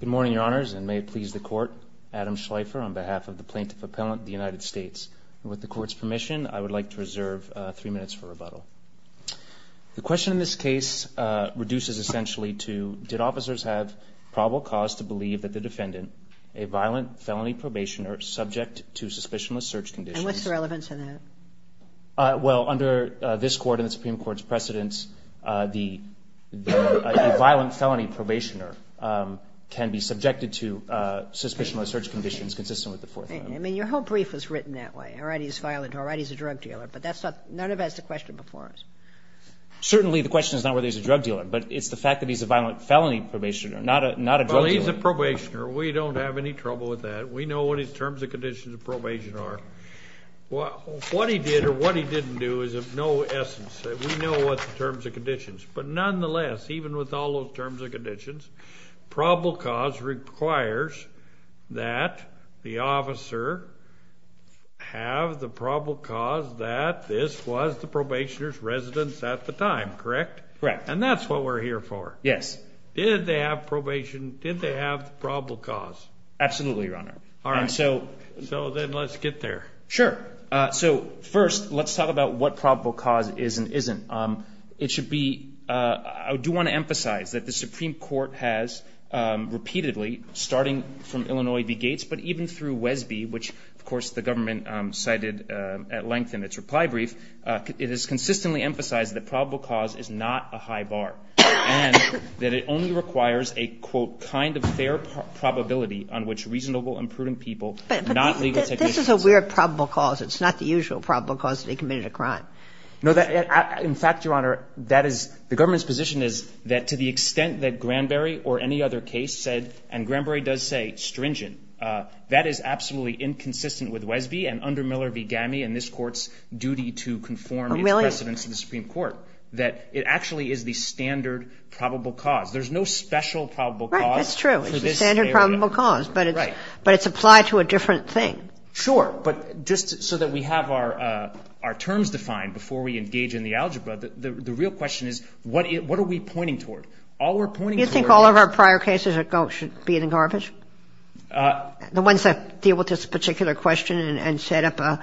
Good morning, Your Honors, and may it please the Court, Adam Schleifer on behalf of the Plaintiff Appellant of the United States. With the Court's permission, I would like to reserve three minutes for rebuttal. The question in this case reduces essentially to, did officers have probable cause to believe that the defendant, a violent felony probationer, subject to suspicionless search conditions? And what's the relevance of that? Well, under this Court and the Supreme Court's precedence, the violent felony probationer can be subjected to suspicionless search conditions consistent with the Fourth Amendment. I mean, your whole brief was written that way. All right, he's violent. All right, he's a drug dealer. But none of that's the question before us. Certainly the question is not whether he's a drug dealer, but it's the fact that he's a violent felony probationer, not a drug dealer. Well, he's a probationer. We don't have any trouble with that. We know what his terms and conditions of probation are. What he did or what he didn't do is of no essence. We know what the terms and conditions. But nonetheless, even with all those terms and conditions, probable cause requires that the officer have the probable cause that this was the probationer's residence at the time, correct? Correct. And that's what we're here for. Yes. Did they have the probable cause? Absolutely, Your Honor. All right. So then let's get there. Sure. So first, let's talk about what probable cause is and isn't. It should be – I do want to emphasize that the Supreme Court has repeatedly, starting from Illinois v. Gates, but even through Wesby, which, of course, the government cited at length in its reply brief, it has consistently emphasized that probable cause is not a high bar and that it only requires a, quote, kind of fair probability on which reasonable and prudent people, not legal technicians. But this is a weird probable cause. It's not the usual probable cause that he committed a crime. No. In fact, Your Honor, that is – the government's position is that to the extent that Granberry or any other case said, and Granberry does say, stringent, that is absolutely inconsistent with Wesby and under Miller v. Gammey Oh, really? that it actually is the standard probable cause. There's no special probable cause for this area. Right. That's true. It's the standard probable cause. Right. But it's applied to a different thing. Sure. But just so that we have our terms defined before we engage in the algebra, the real question is what are we pointing toward? All we're pointing toward – You think all of our prior cases should be in the garbage? The ones that deal with this particular question and set up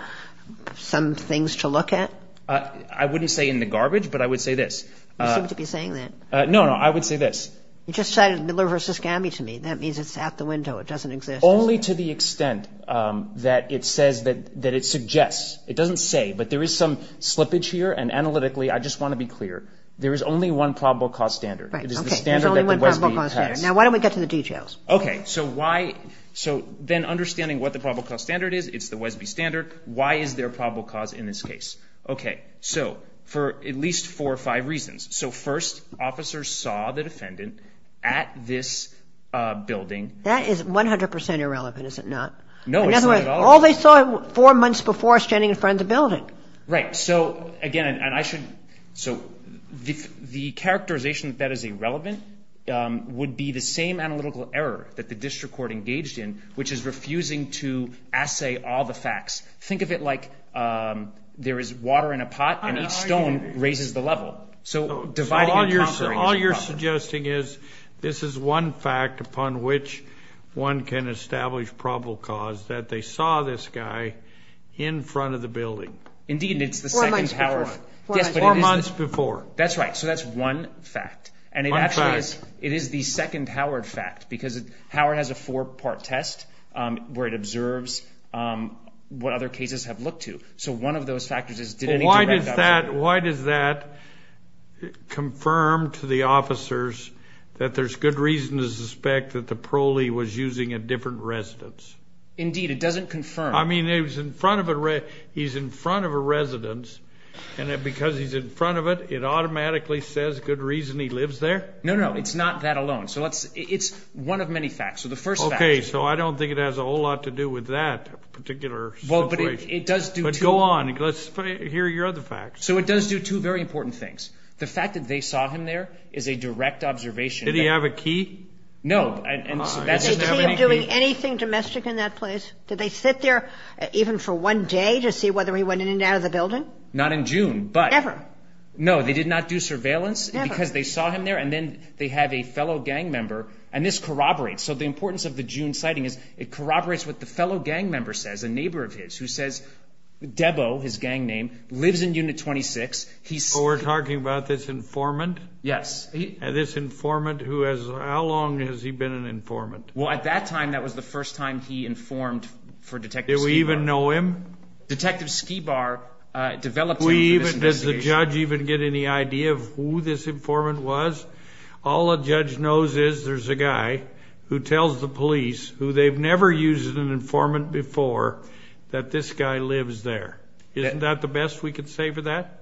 some things to look at? I wouldn't say in the garbage, but I would say this. You seem to be saying that. No, no. I would say this. You just cited Miller v. Gammey to me. That means it's out the window. It doesn't exist. Only to the extent that it says that – that it suggests. It doesn't say. But there is some slippage here, and analytically I just want to be clear. Right. Okay. There's only one probable cause standard. It is the standard that the Wesby passed. Now, why don't we get to the details? Okay. So why – so then understanding what the probable cause standard is, it's the Wesby standard. Why is there a probable cause in this case? Okay. So for at least four or five reasons. So first, officers saw the defendant at this building. That is 100 percent irrelevant, is it not? No, it's not at all. In other words, all they saw four months before standing in front of the building. Right. So, again, and I should – so the characterization that that is irrelevant would be the same analytical error that the district court engaged in, which is refusing to assay all the facts. Think of it like there is water in a pot and each stone raises the level. So dividing and conquering is a problem. So all you're suggesting is this is one fact upon which one can establish probable cause, that they saw this guy in front of the building. Indeed, and it's the second Howard – Four months before. Yes, but it is – Four months before. That's right. So that's one fact. One fact. It is the second Howard fact because Howard has a four-part test where it observes what other cases have looked to. So one of those factors is did any direct observation – Why does that confirm to the officers that there's good reason to suspect that the prole was using a different residence? Indeed, it doesn't confirm. I mean, he's in front of a residence, and because he's in front of it, it automatically says good reason he lives there? No, no. It's not that alone. So it's one of many facts. So the first fact – Okay, so I don't think it has a whole lot to do with that particular situation. Well, but it does do two – But go on. Let's hear your other facts. So it does do two very important things. The fact that they saw him there is a direct observation. Did he have a key? No. Did they keep doing anything domestic in that place? Did they sit there even for one day to see whether he went in and out of the building? Not in June, but – Never. No, they did not do surveillance because they saw him there, and then they have a fellow gang member, and this corroborates. So the importance of the June sighting is it corroborates what the fellow gang member says, a neighbor of his, who says Debo, his gang name, lives in Unit 26. So we're talking about this informant? Yes. This informant who has – how long has he been an informant? Well, at that time, that was the first time he informed for Detective Skibar. Do we even know him? Detective Skibar developed him for this investigation. Does the judge even get any idea of who this informant was? All a judge knows is there's a guy who tells the police, who they've never used an informant before, that this guy lives there. Isn't that the best we could say for that?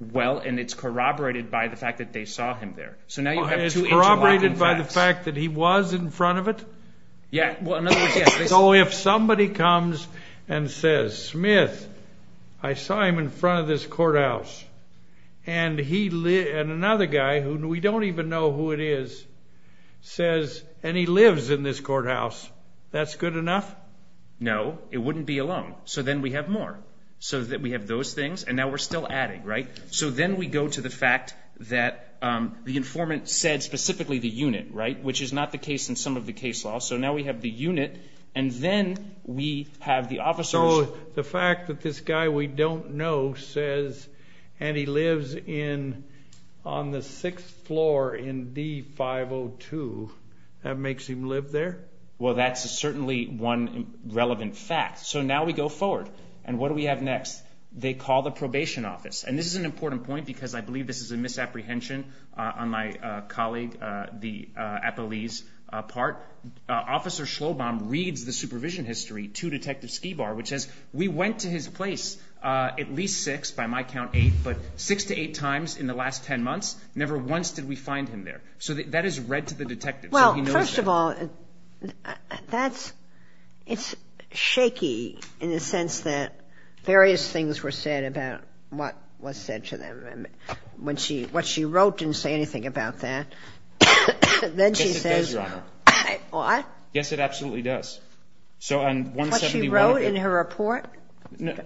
Well, and it's corroborated by the fact that they saw him there. So now you have two interlocking facts. It's corroborated by the fact that he was in front of it? Yeah. So if somebody comes and says, Smith, I saw him in front of this courthouse, and another guy who we don't even know who it is says, and he lives in this courthouse, that's good enough? No, it wouldn't be alone. So then we have more. So we have those things, and now we're still adding, right? So then we go to the fact that the informant said specifically the unit, right, which is not the case in some of the case law. So now we have the unit, and then we have the officers. So the fact that this guy we don't know says, and he lives on the sixth floor in D-502, that makes him live there? Well, that's certainly one relevant fact. So now we go forward, and what do we have next? They call the probation office, and this is an important point because I believe this is a misapprehension on my colleague, the appellee's part. Officer Schlobaum reads the supervision history to Detective Skibar, which says we went to his place at least six, by my count eight, but six to eight times in the last ten months, never once did we find him there. So that is read to the detective. Well, first of all, that's shaky in the sense that various things were said about what was said to them. What she wrote didn't say anything about that. Yes, it does, Your Honor. What? Yes, it absolutely does. What she wrote in her report?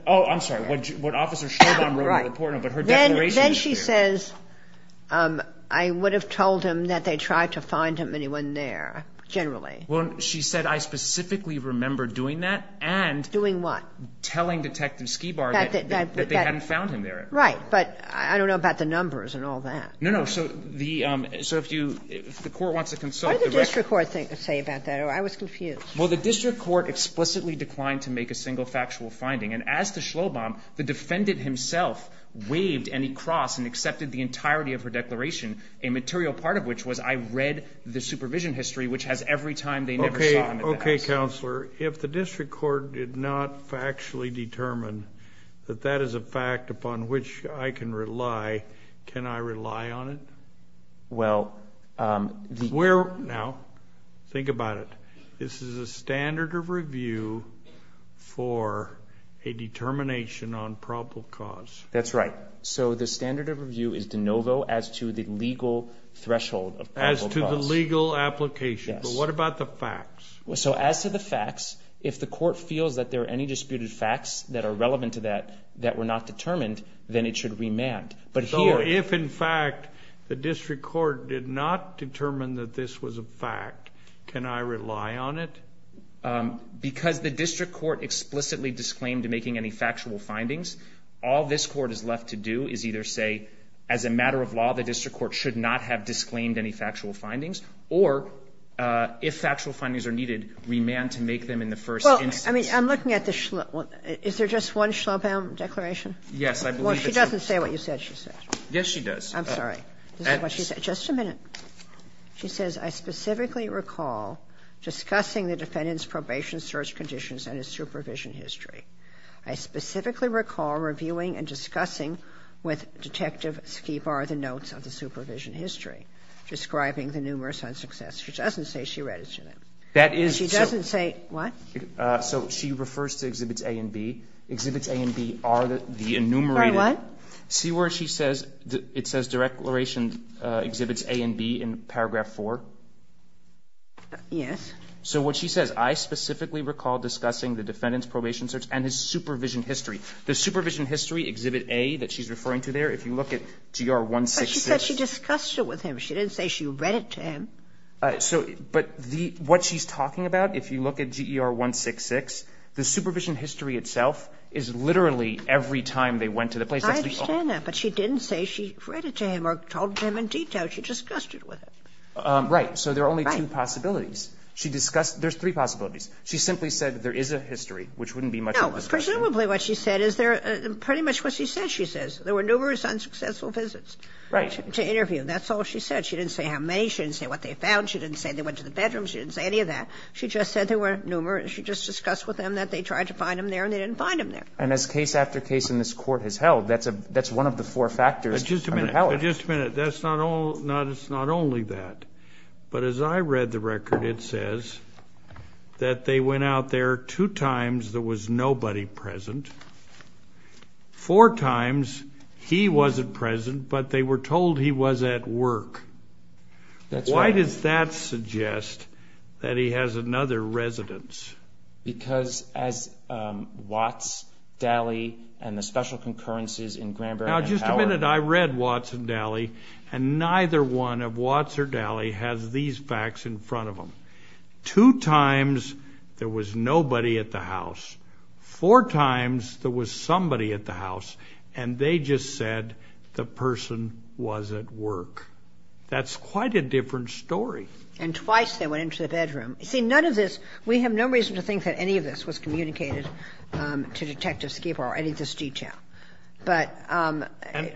Oh, I'm sorry. What Officer Schlobaum wrote in her report. Then she says, I would have told him that they tried to find him and he wasn't there, generally. Well, she said, I specifically remember doing that and telling Detective Skibar that they hadn't found him there. Right, but I don't know about the numbers and all that. No, no. So if the court wants to consult. What did the district court say about that? I was confused. Well, the district court explicitly declined to make a single factual finding. And as to Schlobaum, the defendant himself waived any cross and accepted the entirety of her declaration, a material part of which was I read the supervision history, which has every time they never saw him at the house. Okay, Counselor. Counselor, if the district court did not factually determine that that is a fact upon which I can rely, can I rely on it? Well. Now, think about it. This is a standard of review for a determination on probable cause. That's right. So the standard of review is de novo as to the legal threshold of probable cause. As to the legal application. Yes. But what about the facts? So as to the facts, if the court feels that there are any disputed facts that are relevant to that that were not determined, then it should remand. But here. So if, in fact, the district court did not determine that this was a fact, can I rely on it? Because the district court explicitly disclaimed making any factual findings, all this court is left to do is either say, as a matter of law, the district court should not have disclaimed any factual findings, or if factual findings are needed, remand to make them in the first instance. Well, I mean, I'm looking at the Shlom. Is there just one Shlom declaration? Yes. She doesn't say what you said she said. Yes, she does. I'm sorry. Just a minute. She says, I specifically recall discussing the defendant's probation search conditions and his supervision history. I specifically recall reviewing and discussing with Detective Skibar the notes of the supervision history, describing the numerous unsuccesses. She doesn't say she read it to them. That is so. She doesn't say what? So she refers to Exhibits A and B. Exhibits A and B are the enumerated. Are what? See where she says, it says declaration Exhibits A and B in paragraph 4? Yes. So what she says, I specifically recall discussing the defendant's probation search and his supervision history. The supervision history, Exhibit A that she's referring to there, if you look at GR 166. But she said she discussed it with him. She didn't say she read it to him. But what she's talking about, if you look at GR 166, the supervision history itself is literally every time they went to the place. I understand that. But she didn't say she read it to him or told him in detail. She discussed it with him. Right. Right. So there are only two possibilities. She discussed. There's three possibilities. She simply said there is a history, which wouldn't be much of a discussion. No. Presumably what she said is pretty much what she says she says. There were numerous unsuccessful visits. Right. To interview. That's all she said. She didn't say how many. She didn't say what they found. She didn't say they went to the bedroom. She didn't say any of that. She just said there were numerous. She just discussed with them that they tried to find him there and they didn't find him there. And as case after case in this Court has held, that's a one of the four factors under Pelley. But just a minute. Just a minute. That's not all. It's not only that. But as I read the record, it says that they went out there two times. There was nobody present. Four times he wasn't present, but they were told he was at work. That's right. Why does that suggest that he has another residence? Because as Watts, Daly, and the special concurrences in Granberry and Howard. Now, just a minute. I read Watts and Daly, and neither one of Watts or Daly has these facts in front of them. Two times there was nobody at the house. Four times there was somebody at the house, and they just said the person was at work. That's quite a different story. And twice they went into the bedroom. See, none of this. We have no reason to think that any of this was communicated to Detective Skipper or any of this detail. But I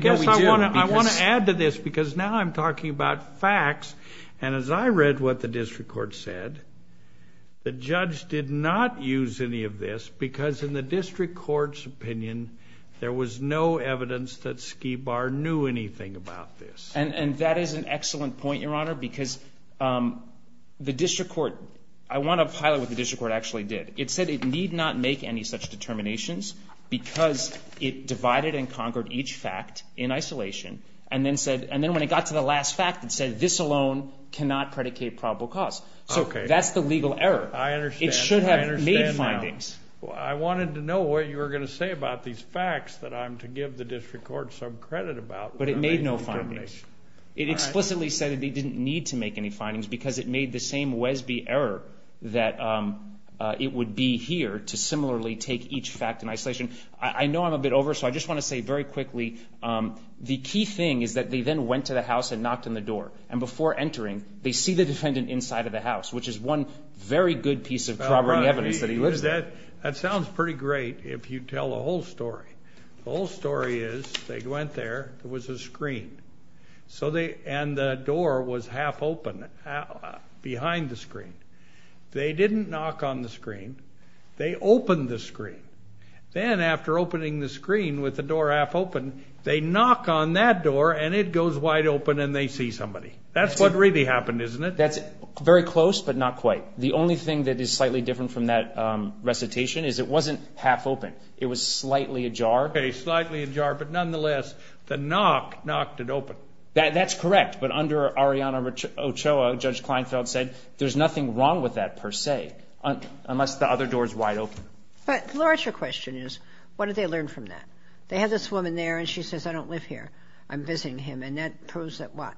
guess I want to add to this because now I'm talking about facts, and as I read what the district court said, the judge did not use any of this because in the district court's opinion, there was no evidence that Skibar knew anything about this. And that is an excellent point, Your Honor, because the district court, I want to highlight what the district court actually did. It said it need not make any such determinations because it divided and conquered each fact in isolation, and then when it got to the last fact, it said this alone cannot predicate probable cause. So that's the legal error. I understand. It should have made findings. I wanted to know what you were going to say about these facts that I'm to give the district court some credit about. But it made no findings. It explicitly said that they didn't need to make any findings because it made the same Wesby error that it would be here to similarly take each fact in isolation. I know I'm a bit over, so I just want to say very quickly, the key thing is that they then went to the house and knocked on the door, and before entering, they see the defendant inside of the house, which is one very good piece of corroborating evidence that he lives there. That sounds pretty great if you tell the whole story. The whole story is they went there, there was a screen, and the door was half open behind the screen. They didn't knock on the screen. They opened the screen. Then after opening the screen with the door half open, they knock on that door, and it goes wide open, and they see somebody. That's what really happened, isn't it? That's very close, but not quite. The only thing that is slightly different from that recitation is it wasn't half open. It was slightly ajar. Okay, slightly ajar, but nonetheless, the knock knocked it open. That's correct. But under Arianna Ochoa, Judge Kleinfeld said there's nothing wrong with that per se, unless the other door is wide open. But the larger question is what did they learn from that? They have this woman there, and she says, I don't live here. I'm visiting him. And that proves that what?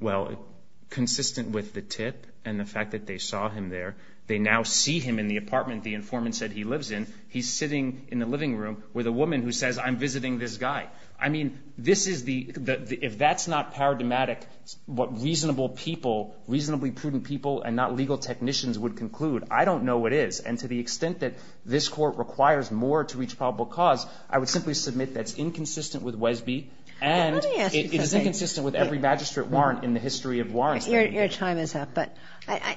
Well, consistent with the tip and the fact that they saw him there, they now see him in the apartment, the informant said he lives in. He's sitting in the living room with a woman who says, I'm visiting this guy. I mean, this is the ‑‑ if that's not paradigmatic, what reasonable people, reasonably prudent people and not legal technicians would conclude, I don't know what is. And to the extent that this Court requires more to reach probable cause, I would simply submit that's inconsistent with Wesby and it is inconsistent with every magistrate warrant in the history of warrants. Your time is up. But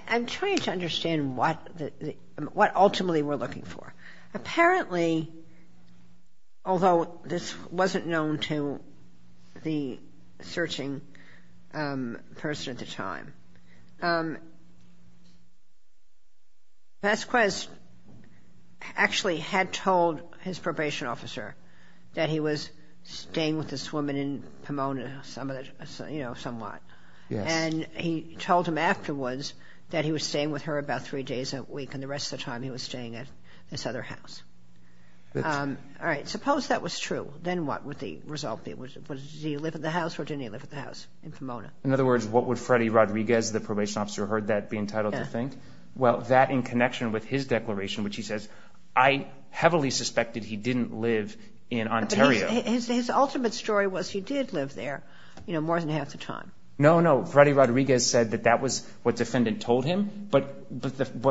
I'm trying to understand what ultimately we're looking for. Apparently, although this wasn't known to the searching person at the time, Vasquez actually had told his probation officer that he was staying with this woman in Pomona, you know, somewhat. Yes. And he told him afterwards that he was staying with her about three days a week, and the rest of the time he was staying at this other house. All right. Suppose that was true. Then what would the result be? Would he live at the house or didn't he live at the house in Pomona? In other words, what would Freddy Rodriguez, the probation officer who heard that, be entitled to think? Well, that in connection with his declaration, which he says, I heavily suspected he didn't live in Ontario. But his ultimate story was he did live there, you know, more than half the time. No, no. Freddy Rodriguez said that that was what defendant told him, but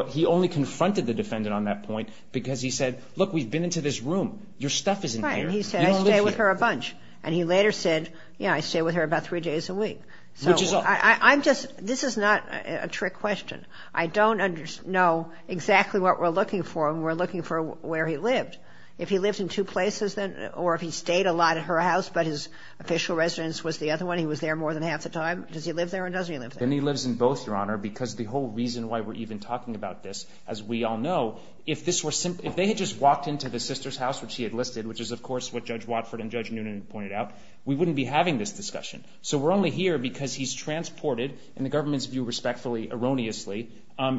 he only confronted the defendant on that point because he said, look, we've been into this room. Your stuff isn't here. Right. And he said, I stay with her a bunch. And he later said, yeah, I stay with her about three days a week. This is not a trick question. I don't know exactly what we're looking for, and we're looking for where he lived. If he lived in two places, then, or if he stayed a lot at her house but his official residence was the other one, he was there more than half the time, does he live there or doesn't he live there? Then he lives in both, Your Honor, because the whole reason why we're even talking about this, as we all know, if they had just walked into the sister's house, which he had listed, which is, of course, what Judge Watford and Judge Noonan pointed out, we wouldn't be having this discussion. So we're only here because he's transported, in the government's view, respectfully, erroneously,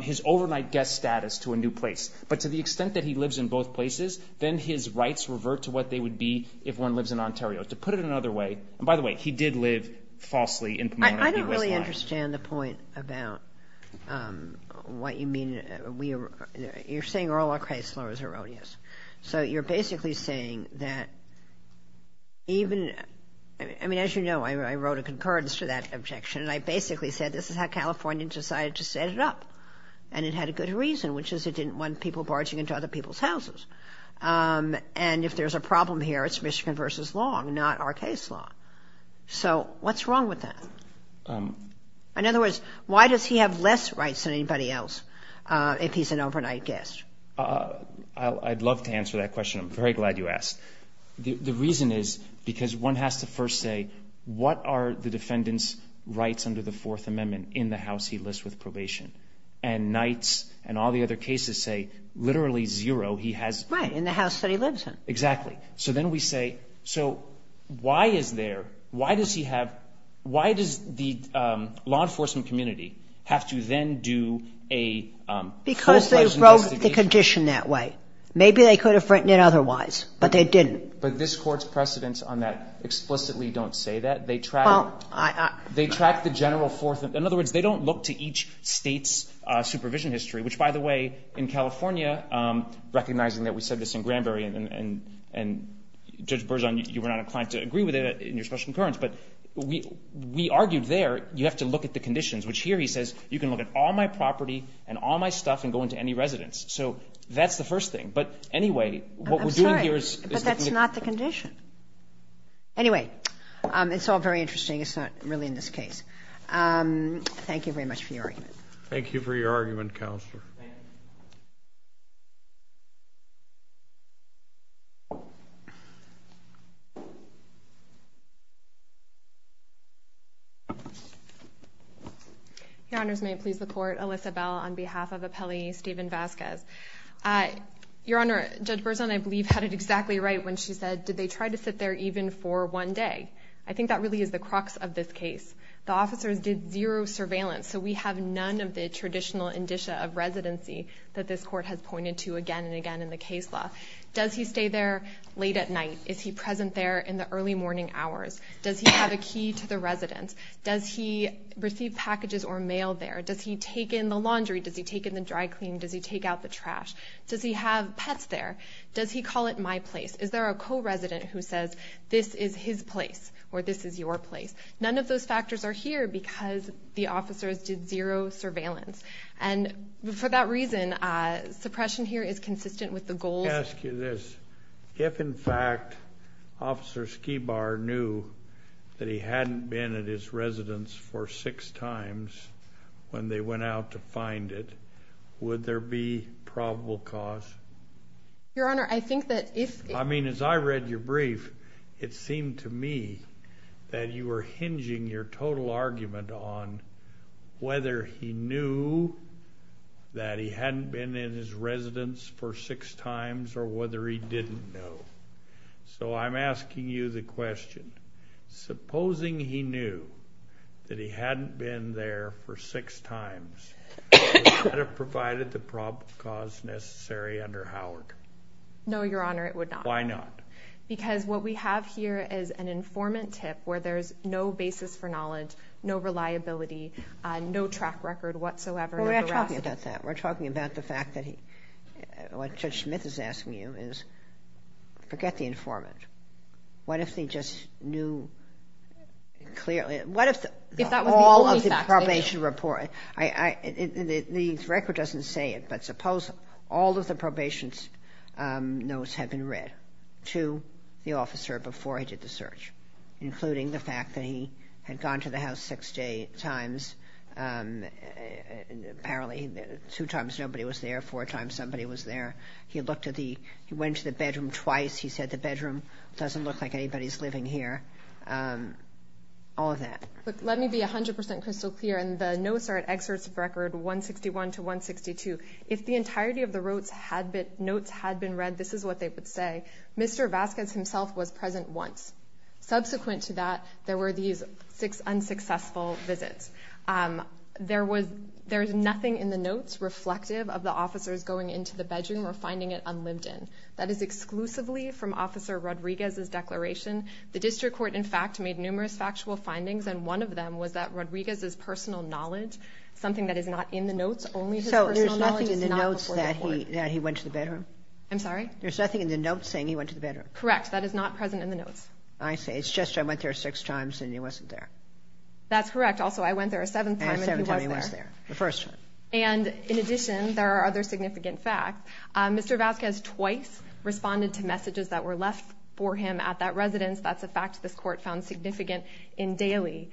his overnight guest status to a new place. But to the extent that he lives in both places, then his rights revert to what they would be if one lives in Ontario. To put it another way, and by the way, he did live falsely in Pomona. I don't really understand the point about what you mean. You're saying Earl O. Kreisler is erroneous. So you're basically saying that even, I mean, as you know, I wrote a concurrence to that objection, and I basically said this is how California decided to set it up. And it had a good reason, which is it didn't want people barging into other people's houses. And if there's a problem here, it's Michigan v. Long, not our case law. So what's wrong with that? In other words, why does he have less rights than anybody else if he's an overnight guest? I'd love to answer that question. I'm very glad you asked. The reason is because one has to first say, what are the defendant's rights under the Fourth Amendment in the house he lists with probation? And Knights and all the other cases say literally zero. He has... Right, in the house that he lives in. Exactly. So then we say, so why is there, why does he have, why does the law enforcement community have to then do a full-fledged investigation? Because they wrote the condition that way. Maybe they could have written it otherwise, but they didn't. But this Court's precedents on that explicitly don't say that. They track... Well, I... They track the general Fourth Amendment. In other words, they don't look to each state's supervision history, which, by the way, in California, recognizing that we said this in Granbury and, Judge Berzon, you were not inclined to agree with it in your special concurrence, but we argued there you have to look at the conditions, which here he says, you can look at all my property and all my stuff and go into any residence. So that's the first thing. But anyway, what we're doing here is... I'm sorry, but that's not the condition. Anyway, it's all very interesting. It's not really in this case. Thank you very much for your argument. Thank you for your argument, Counselor. Thank you. Your Honors, may it please the Court, Alyssa Bell on behalf of Appellee Stephen Vasquez. Your Honor, Judge Berzon, I believe, had it exactly right when she said, did they try to sit there even for one day? I think that really is the crux of this case. The officers did zero surveillance, so we have none of the traditional indicia of residency that this Court has pointed to again and again in the case law. Does he stay there late at night? Is he present there in the early morning hours? Does he have a key to the residence? Does he receive packages or mail there? Does he take in the laundry? Does he take in the dry clean? Does he take out the trash? Does he have pets there? Does he call it my place? Is there a co-resident who says, this is his place or this is your place? None of those factors are here because the officers did zero surveillance. And for that reason, suppression here is consistent with the goals. Let me ask you this. If, in fact, Officer Skibar knew that he hadn't been at his residence for six times when they went out to find it, would there be probable cause? Your Honor, I think that if – I mean, as I read your brief, it seemed to me that you were hinging your total argument on whether he knew that he hadn't been in his residence for six times or whether he didn't know. So I'm asking you the question. Supposing he knew that he hadn't been there for six times, would that have provided the probable cause necessary under Howard? No, Your Honor, it would not. Why not? Because what we have here is an informant tip where there's no basis for knowledge, no reliability, no track record whatsoever of the arrest. We're not talking about that. We're talking about the fact that he – what Judge Smith is asking you is forget the informant. What if he just knew clearly – what if all of the probation report – the record doesn't say it, but suppose all of the probation notes had been read to the officer before he did the search, including the fact that he had gone to the house six times, apparently two times nobody was there, four times somebody was there. He looked at the – he went to the bedroom twice. He said the bedroom doesn't look like anybody's living here, all of that. Let me be 100 percent crystal clear, and the notes are at excerpts of record 161 to 162. If the entirety of the notes had been read, this is what they would say. Mr. Vasquez himself was present once. Subsequent to that, there were these six unsuccessful visits. There's nothing in the notes reflective of the officers going into the bedroom or finding it unlived in. That is exclusively from Officer Rodriguez's declaration. The district court, in fact, made numerous factual findings, and one of them was that Rodriguez's personal knowledge, something that is not in the notes, only his personal knowledge is not before the court. So there's nothing in the notes that he went to the bedroom? I'm sorry? There's nothing in the notes saying he went to the bedroom? Correct. That is not present in the notes. I see. It's just I went there six times and he wasn't there. That's correct. Also, I went there a seventh time and he was there. And a seventh time he was there, the first time. And in addition, there are other significant facts. Mr. Vasquez twice responded to messages that were left for him at that residence. That's a fact this court found significant in Daly.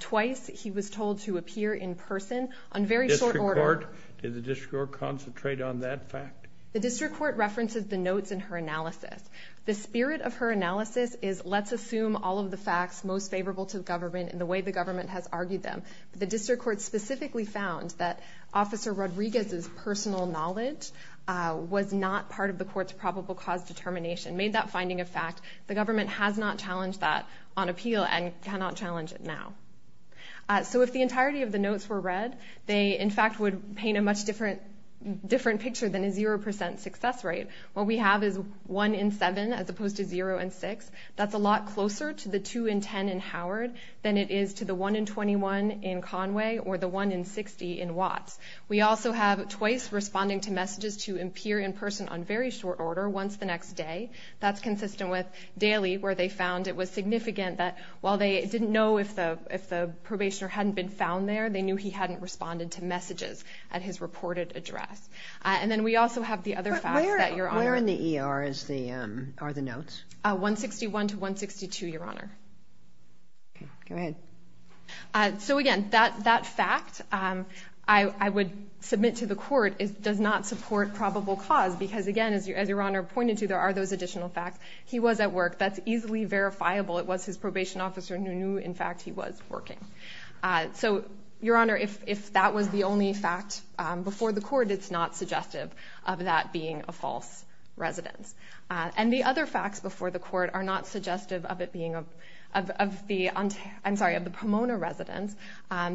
Twice he was told to appear in person on very short order. The district court? Did the district court concentrate on that fact? The district court references the notes in her analysis. The spirit of her analysis is let's assume all of the facts most favorable to the government in the way the government has argued them. The district court specifically found that Officer Rodriguez's personal knowledge was not part of the court's probable cause determination, made that finding a fact. The government has not challenged that on appeal and cannot challenge it now. So if the entirety of the notes were read, they in fact would paint a much different picture than a 0% success rate. What we have is 1 in 7 as opposed to 0 in 6. That's a lot closer to the 2 in 10 in Howard than it is to the 1 in 21 in Conway or the 1 in 60 in Watts. We also have twice responding to messages to appear in person on very short order once the next day. That's consistent with Daly where they found it was significant that while they didn't know if the probationer hadn't been found there, they knew he hadn't responded to messages at his reported address. And then we also have the other facts that Your Honor... Where in the ER are the notes? 161 to 162, Your Honor. Go ahead. So again, that fact I would submit to the court does not support probable cause because again, as Your Honor pointed to, there are those additional facts. He was at work. That's easily verifiable. It was his probation officer who knew, in fact, he was working. So, Your Honor, if that was the only fact before the court, it's not suggestive of that being a false residence. And the other facts before the court are not suggestive of it being a... I'm sorry, of the Pomona residence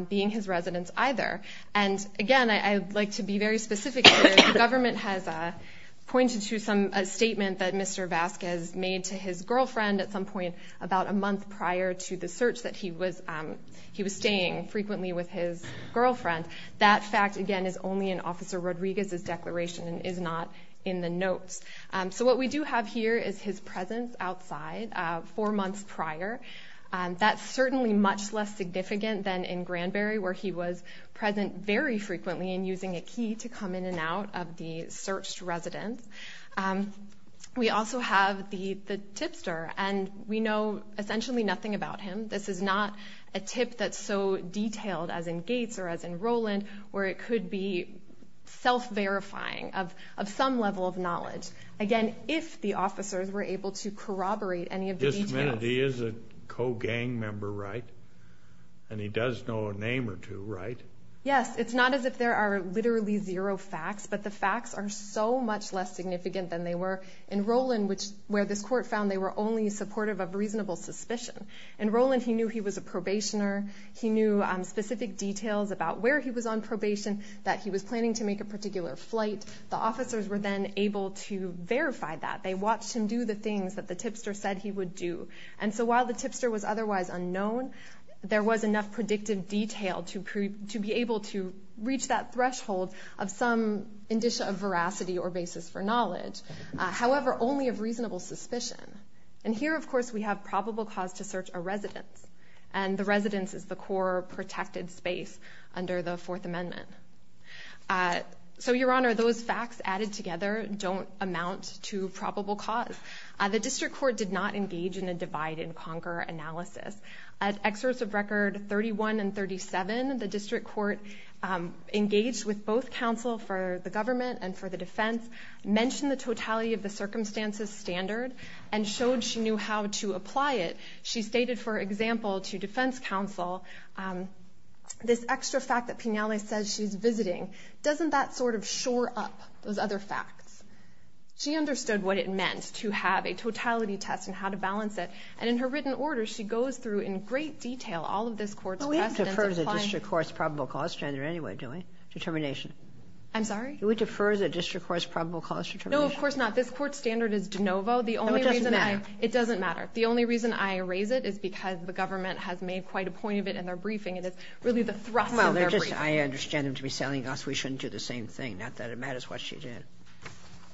being his residence either. And again, I'd like to be very specific here. The government has pointed to a statement that Mr. Vasquez made to his girlfriend at some point about a month prior to the search that he was staying frequently with his girlfriend. That fact, again, is only in Officer Rodriguez's declaration and is not in the notes. So what we do have here is his presence outside four months prior. That's certainly much less significant than in Granberry where he was present very frequently and using a key to come in and out of the searched residence. We also have the tipster, and we know essentially nothing about him. This is not a tip that's so detailed as in Gates or as in Rowland where it could be self-verifying of some level of knowledge. Again, if the officers were able to corroborate any of the details. Wait a minute. He is a co-gang member, right? And he does know a name or two, right? Yes. It's not as if there are literally zero facts, but the facts are so much less significant than they were in Rowland where this court found they were only supportive of reasonable suspicion. In Rowland, he knew he was a probationer. He knew specific details about where he was on probation, that he was planning to make a particular flight. The officers were then able to verify that. They watched him do the things that the tipster said he would do. And so while the tipster was otherwise unknown, there was enough predictive detail to be able to reach that threshold of some indicia of veracity or basis for knowledge, however, only of reasonable suspicion. And here, of course, we have probable cause to search a residence, and the residence is the core protected space under the Fourth Amendment. So, Your Honor, those facts added together don't amount to probable cause. The district court did not engage in a divide-and-conquer analysis. At excerpts of Record 31 and 37, the district court engaged with both counsel for the government and for the defense, mentioned the totality of the circumstances standard, and showed she knew how to apply it. She stated, for example, to defense counsel, this extra fact that Pinelli says she's visiting, doesn't that sort of shore up those other facts? She understood what it meant to have a totality test and how to balance it, and in her written order, she goes through in great detail all of this court's precedents. But we have deferred the district court's probable cause standard anyway, doing determination. I'm sorry? Do we defer the district court's probable cause determination? No, of course not. This court's standard is de novo. No, it doesn't matter. It doesn't matter. The only reason I raise it is because the government has made quite a point of it in their briefing, and it's really the thrust of their briefing. I understand them to be telling us we shouldn't do the same thing, not that it matters what she did.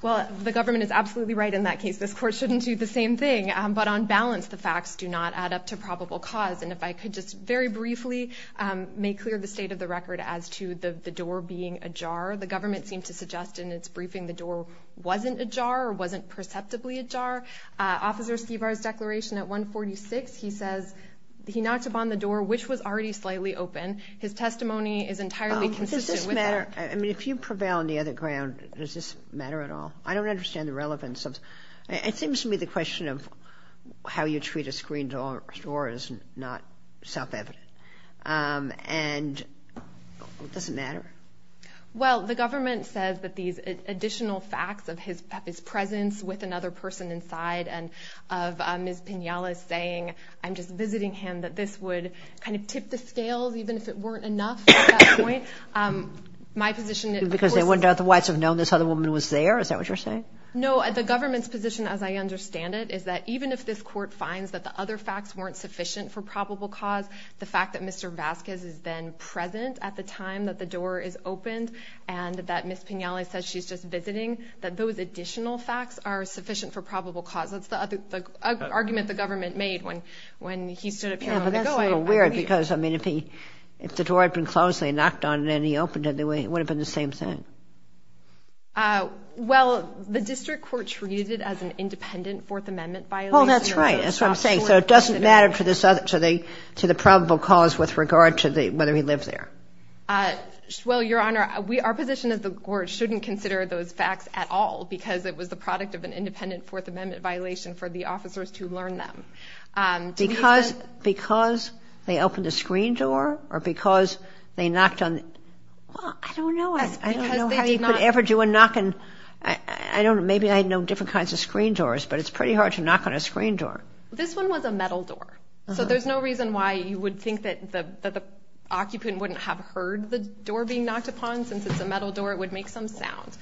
Well, the government is absolutely right in that case. This court shouldn't do the same thing. But on balance, the facts do not add up to probable cause. And if I could just very briefly make clear the state of the record as to the door being ajar. The government seemed to suggest in its briefing the door wasn't ajar or wasn't perceptibly ajar. Officer Skivar's declaration at 146, he says he knocked upon the door, which was already slightly open. His testimony is entirely consistent with that. Does this matter? I mean, if you prevail on the other ground, does this matter at all? I don't understand the relevance of it. It seems to me the question of how you treat a screened door is not self-evident. And does it matter? Well, the government says that these additional facts of his presence with another person inside and of Ms. Pinales saying, I'm just visiting him, that this would kind of tip the scales, even if it weren't enough at that point. Because they wouldn't otherwise have known this other woman was there? Is that what you're saying? No, the government's position, as I understand it, is that even if this court finds that the other facts weren't sufficient for probable cause, the fact that Mr. Vasquez is then present at the time that the door is opened and that Ms. Pinales says she's just visiting, that those additional facts are sufficient for probable cause. That's the argument the government made when he stood up here a moment ago. Yeah, but that's a little weird because, I mean, if the door had been closed and they knocked on it and he opened it, it would have been the same thing. Well, the district court treated it as an independent Fourth Amendment violation. Well, that's right. That's what I'm saying. So it doesn't matter to the probable cause with regard to whether he lived there. Well, Your Honor, our position is the court shouldn't consider those facts at all because it was the product of an independent Fourth Amendment violation for the officers to learn them. Because they opened a screen door or because they knocked on it? Well, I don't know. I don't know how you could ever do a knock. Maybe I know different kinds of screen doors, but it's pretty hard to knock on a screen door. This one was a metal door. So there's no reason why you would think that the occupant wouldn't have heard the door being knocked upon. Since it's a metal door, it would make some sound.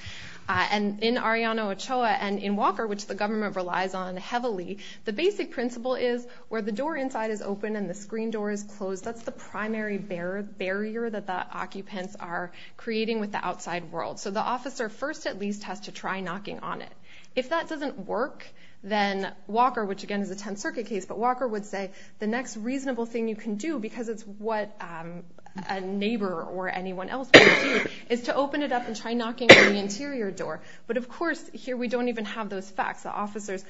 And in Arellano Ochoa and in Walker, which the government relies on heavily, the basic principle is where the door inside is open and the screen door is closed, that's the primary barrier that the occupants are creating with the outside world. So the officer first at least has to try knocking on it. If that doesn't work, then Walker, which again is a Tenth Circuit case, but Walker would say the next reasonable thing you can do, because it's what a neighbor or anyone else would do, is to open it up and try knocking on the interior door. But, of course, here we don't even have those facts. The officers,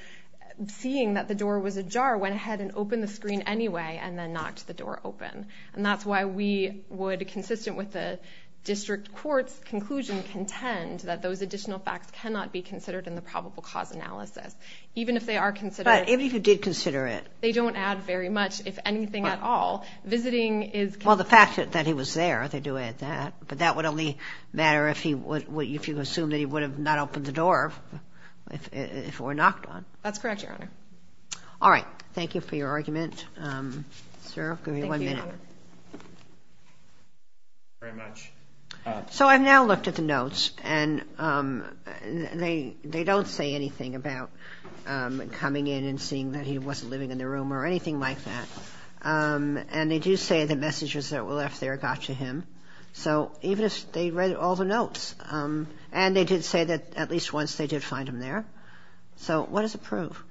seeing that the door was ajar, went ahead and opened the screen anyway and then knocked the door open. And that's why we would, consistent with the district court's conclusion, contend that those additional facts cannot be considered in the probable cause analysis. Even if they are considered. But even if you did consider it. They don't add very much, if anything at all. Visiting is. Well, the fact that he was there, they do add that. But that would only matter if you assume that he would have not opened the door if it were knocked on. That's correct, Your Honor. All right. Thank you for your argument, sir. Give me one minute. Thank you, Your Honor. Thank you very much. So I've now looked at the notes, and they don't say anything about coming in and seeing that he wasn't living in the room or anything like that. And they do say the messages that were left there got to him. So even if they read all the notes, and they did say that at least once they did find him there. So what does it prove?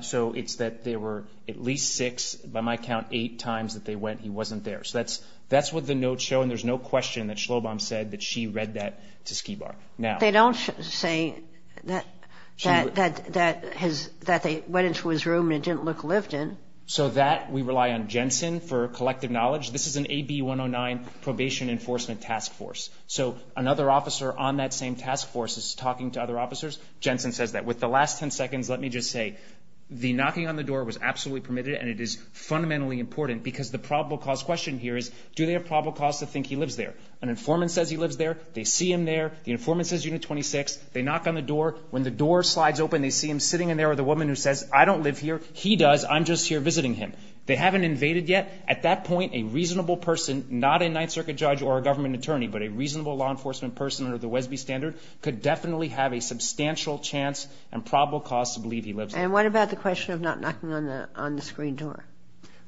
So it's that there were at least six, by my count, eight times that they went he wasn't there. So that's what the notes show, and there's no question that Shlobom said that she read that to Skibar. They don't say that they went into his room and it didn't look lived in. So that we rely on Jensen for collective knowledge. This is an AB-109 probation enforcement task force. So another officer on that same task force is talking to other officers. Jensen says that. With the last ten seconds, let me just say the knocking on the door was absolutely permitted, and it is fundamentally important because the probable cause question here is, do they have probable cause to think he lives there? An informant says he lives there. They see him there. The informant says unit 26. They knock on the door. When the door slides open, they see him sitting in there with a woman who says, I don't live here. He does. I'm just here visiting him. They haven't invaded yet. At that point, a reasonable person, not a Ninth Circuit judge or a government attorney, but a reasonable law enforcement person under the Wesby standard, could definitely have a substantial chance and probable cause to believe he lives there. And what about the question of not knocking on the screen door?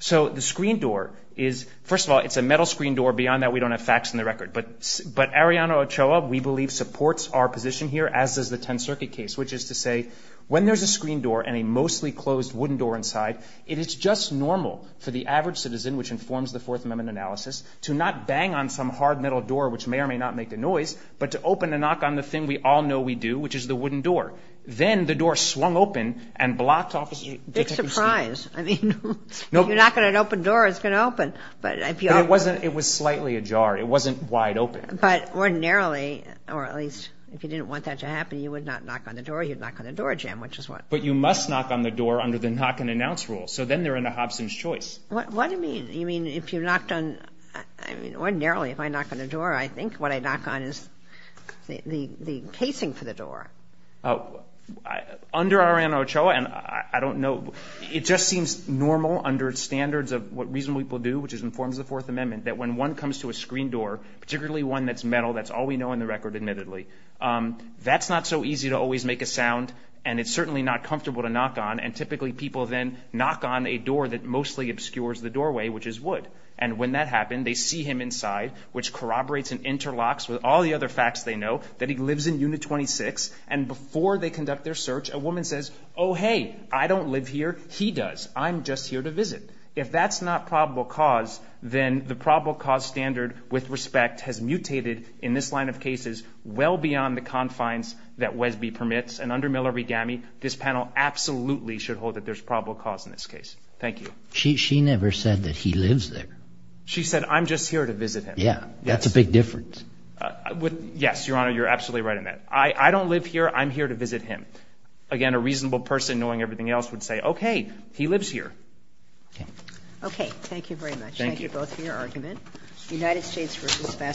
So the screen door is, first of all, it's a metal screen door. Beyond that, we don't have facts on the record. But Arianna Ochoa, we believe, supports our position here, as does the Tenth Circuit case, which is to say when there's a screen door and a mostly closed wooden door inside, it is just normal for the average citizen, which informs the Fourth Amendment analysis, to not bang on some hard metal door, which may or may not make a noise, but to open and knock on the thing we all know we do, which is the wooden door. Then the door swung open and blocked off the detective's view. Big surprise. I mean, if you knock on an open door, it's going to open. But if you open it. It was slightly ajar. It wasn't wide open. But ordinarily, or at least if you didn't want that to happen, you would not knock on the door. You'd knock on the door jam, which is what. But you must knock on the door under the knock and announce rule. So then they're in a Hobson's choice. What do you mean? You mean if you knocked on – I mean, ordinarily, if I knock on the door, I think what I knock on is the casing for the door. Oh. Under our NHOA, and I don't know. It just seems normal under standards of what reasonable people do, which is in forms of the Fourth Amendment, that when one comes to a screen door, particularly one that's metal, that's all we know on the record, admittedly, that's not so easy to always make a sound. And it's certainly not comfortable to knock on. And typically people then knock on a door that mostly obscures the doorway, which is wood. And when that happened, they see him inside, which corroborates and interlocks with all the other facts they know, that he lives in unit 26. And before they conduct their search, a woman says, oh, hey, I don't live here. He does. I'm just here to visit. If that's not probable cause, then the probable cause standard with respect has mutated in this line of cases well beyond the confines that WESB permits. And under Miller v. GAMI, this panel absolutely should hold that there's probable cause in this case. Thank you. She never said that he lives there. She said, I'm just here to visit him. Yeah. That's a big difference. Yes, Your Honor, you're absolutely right on that. I don't live here. I'm here to visit him. Again, a reasonable person knowing everything else would say, okay, he lives here. Okay. Okay. Thank you very much. Thank you both for your argument.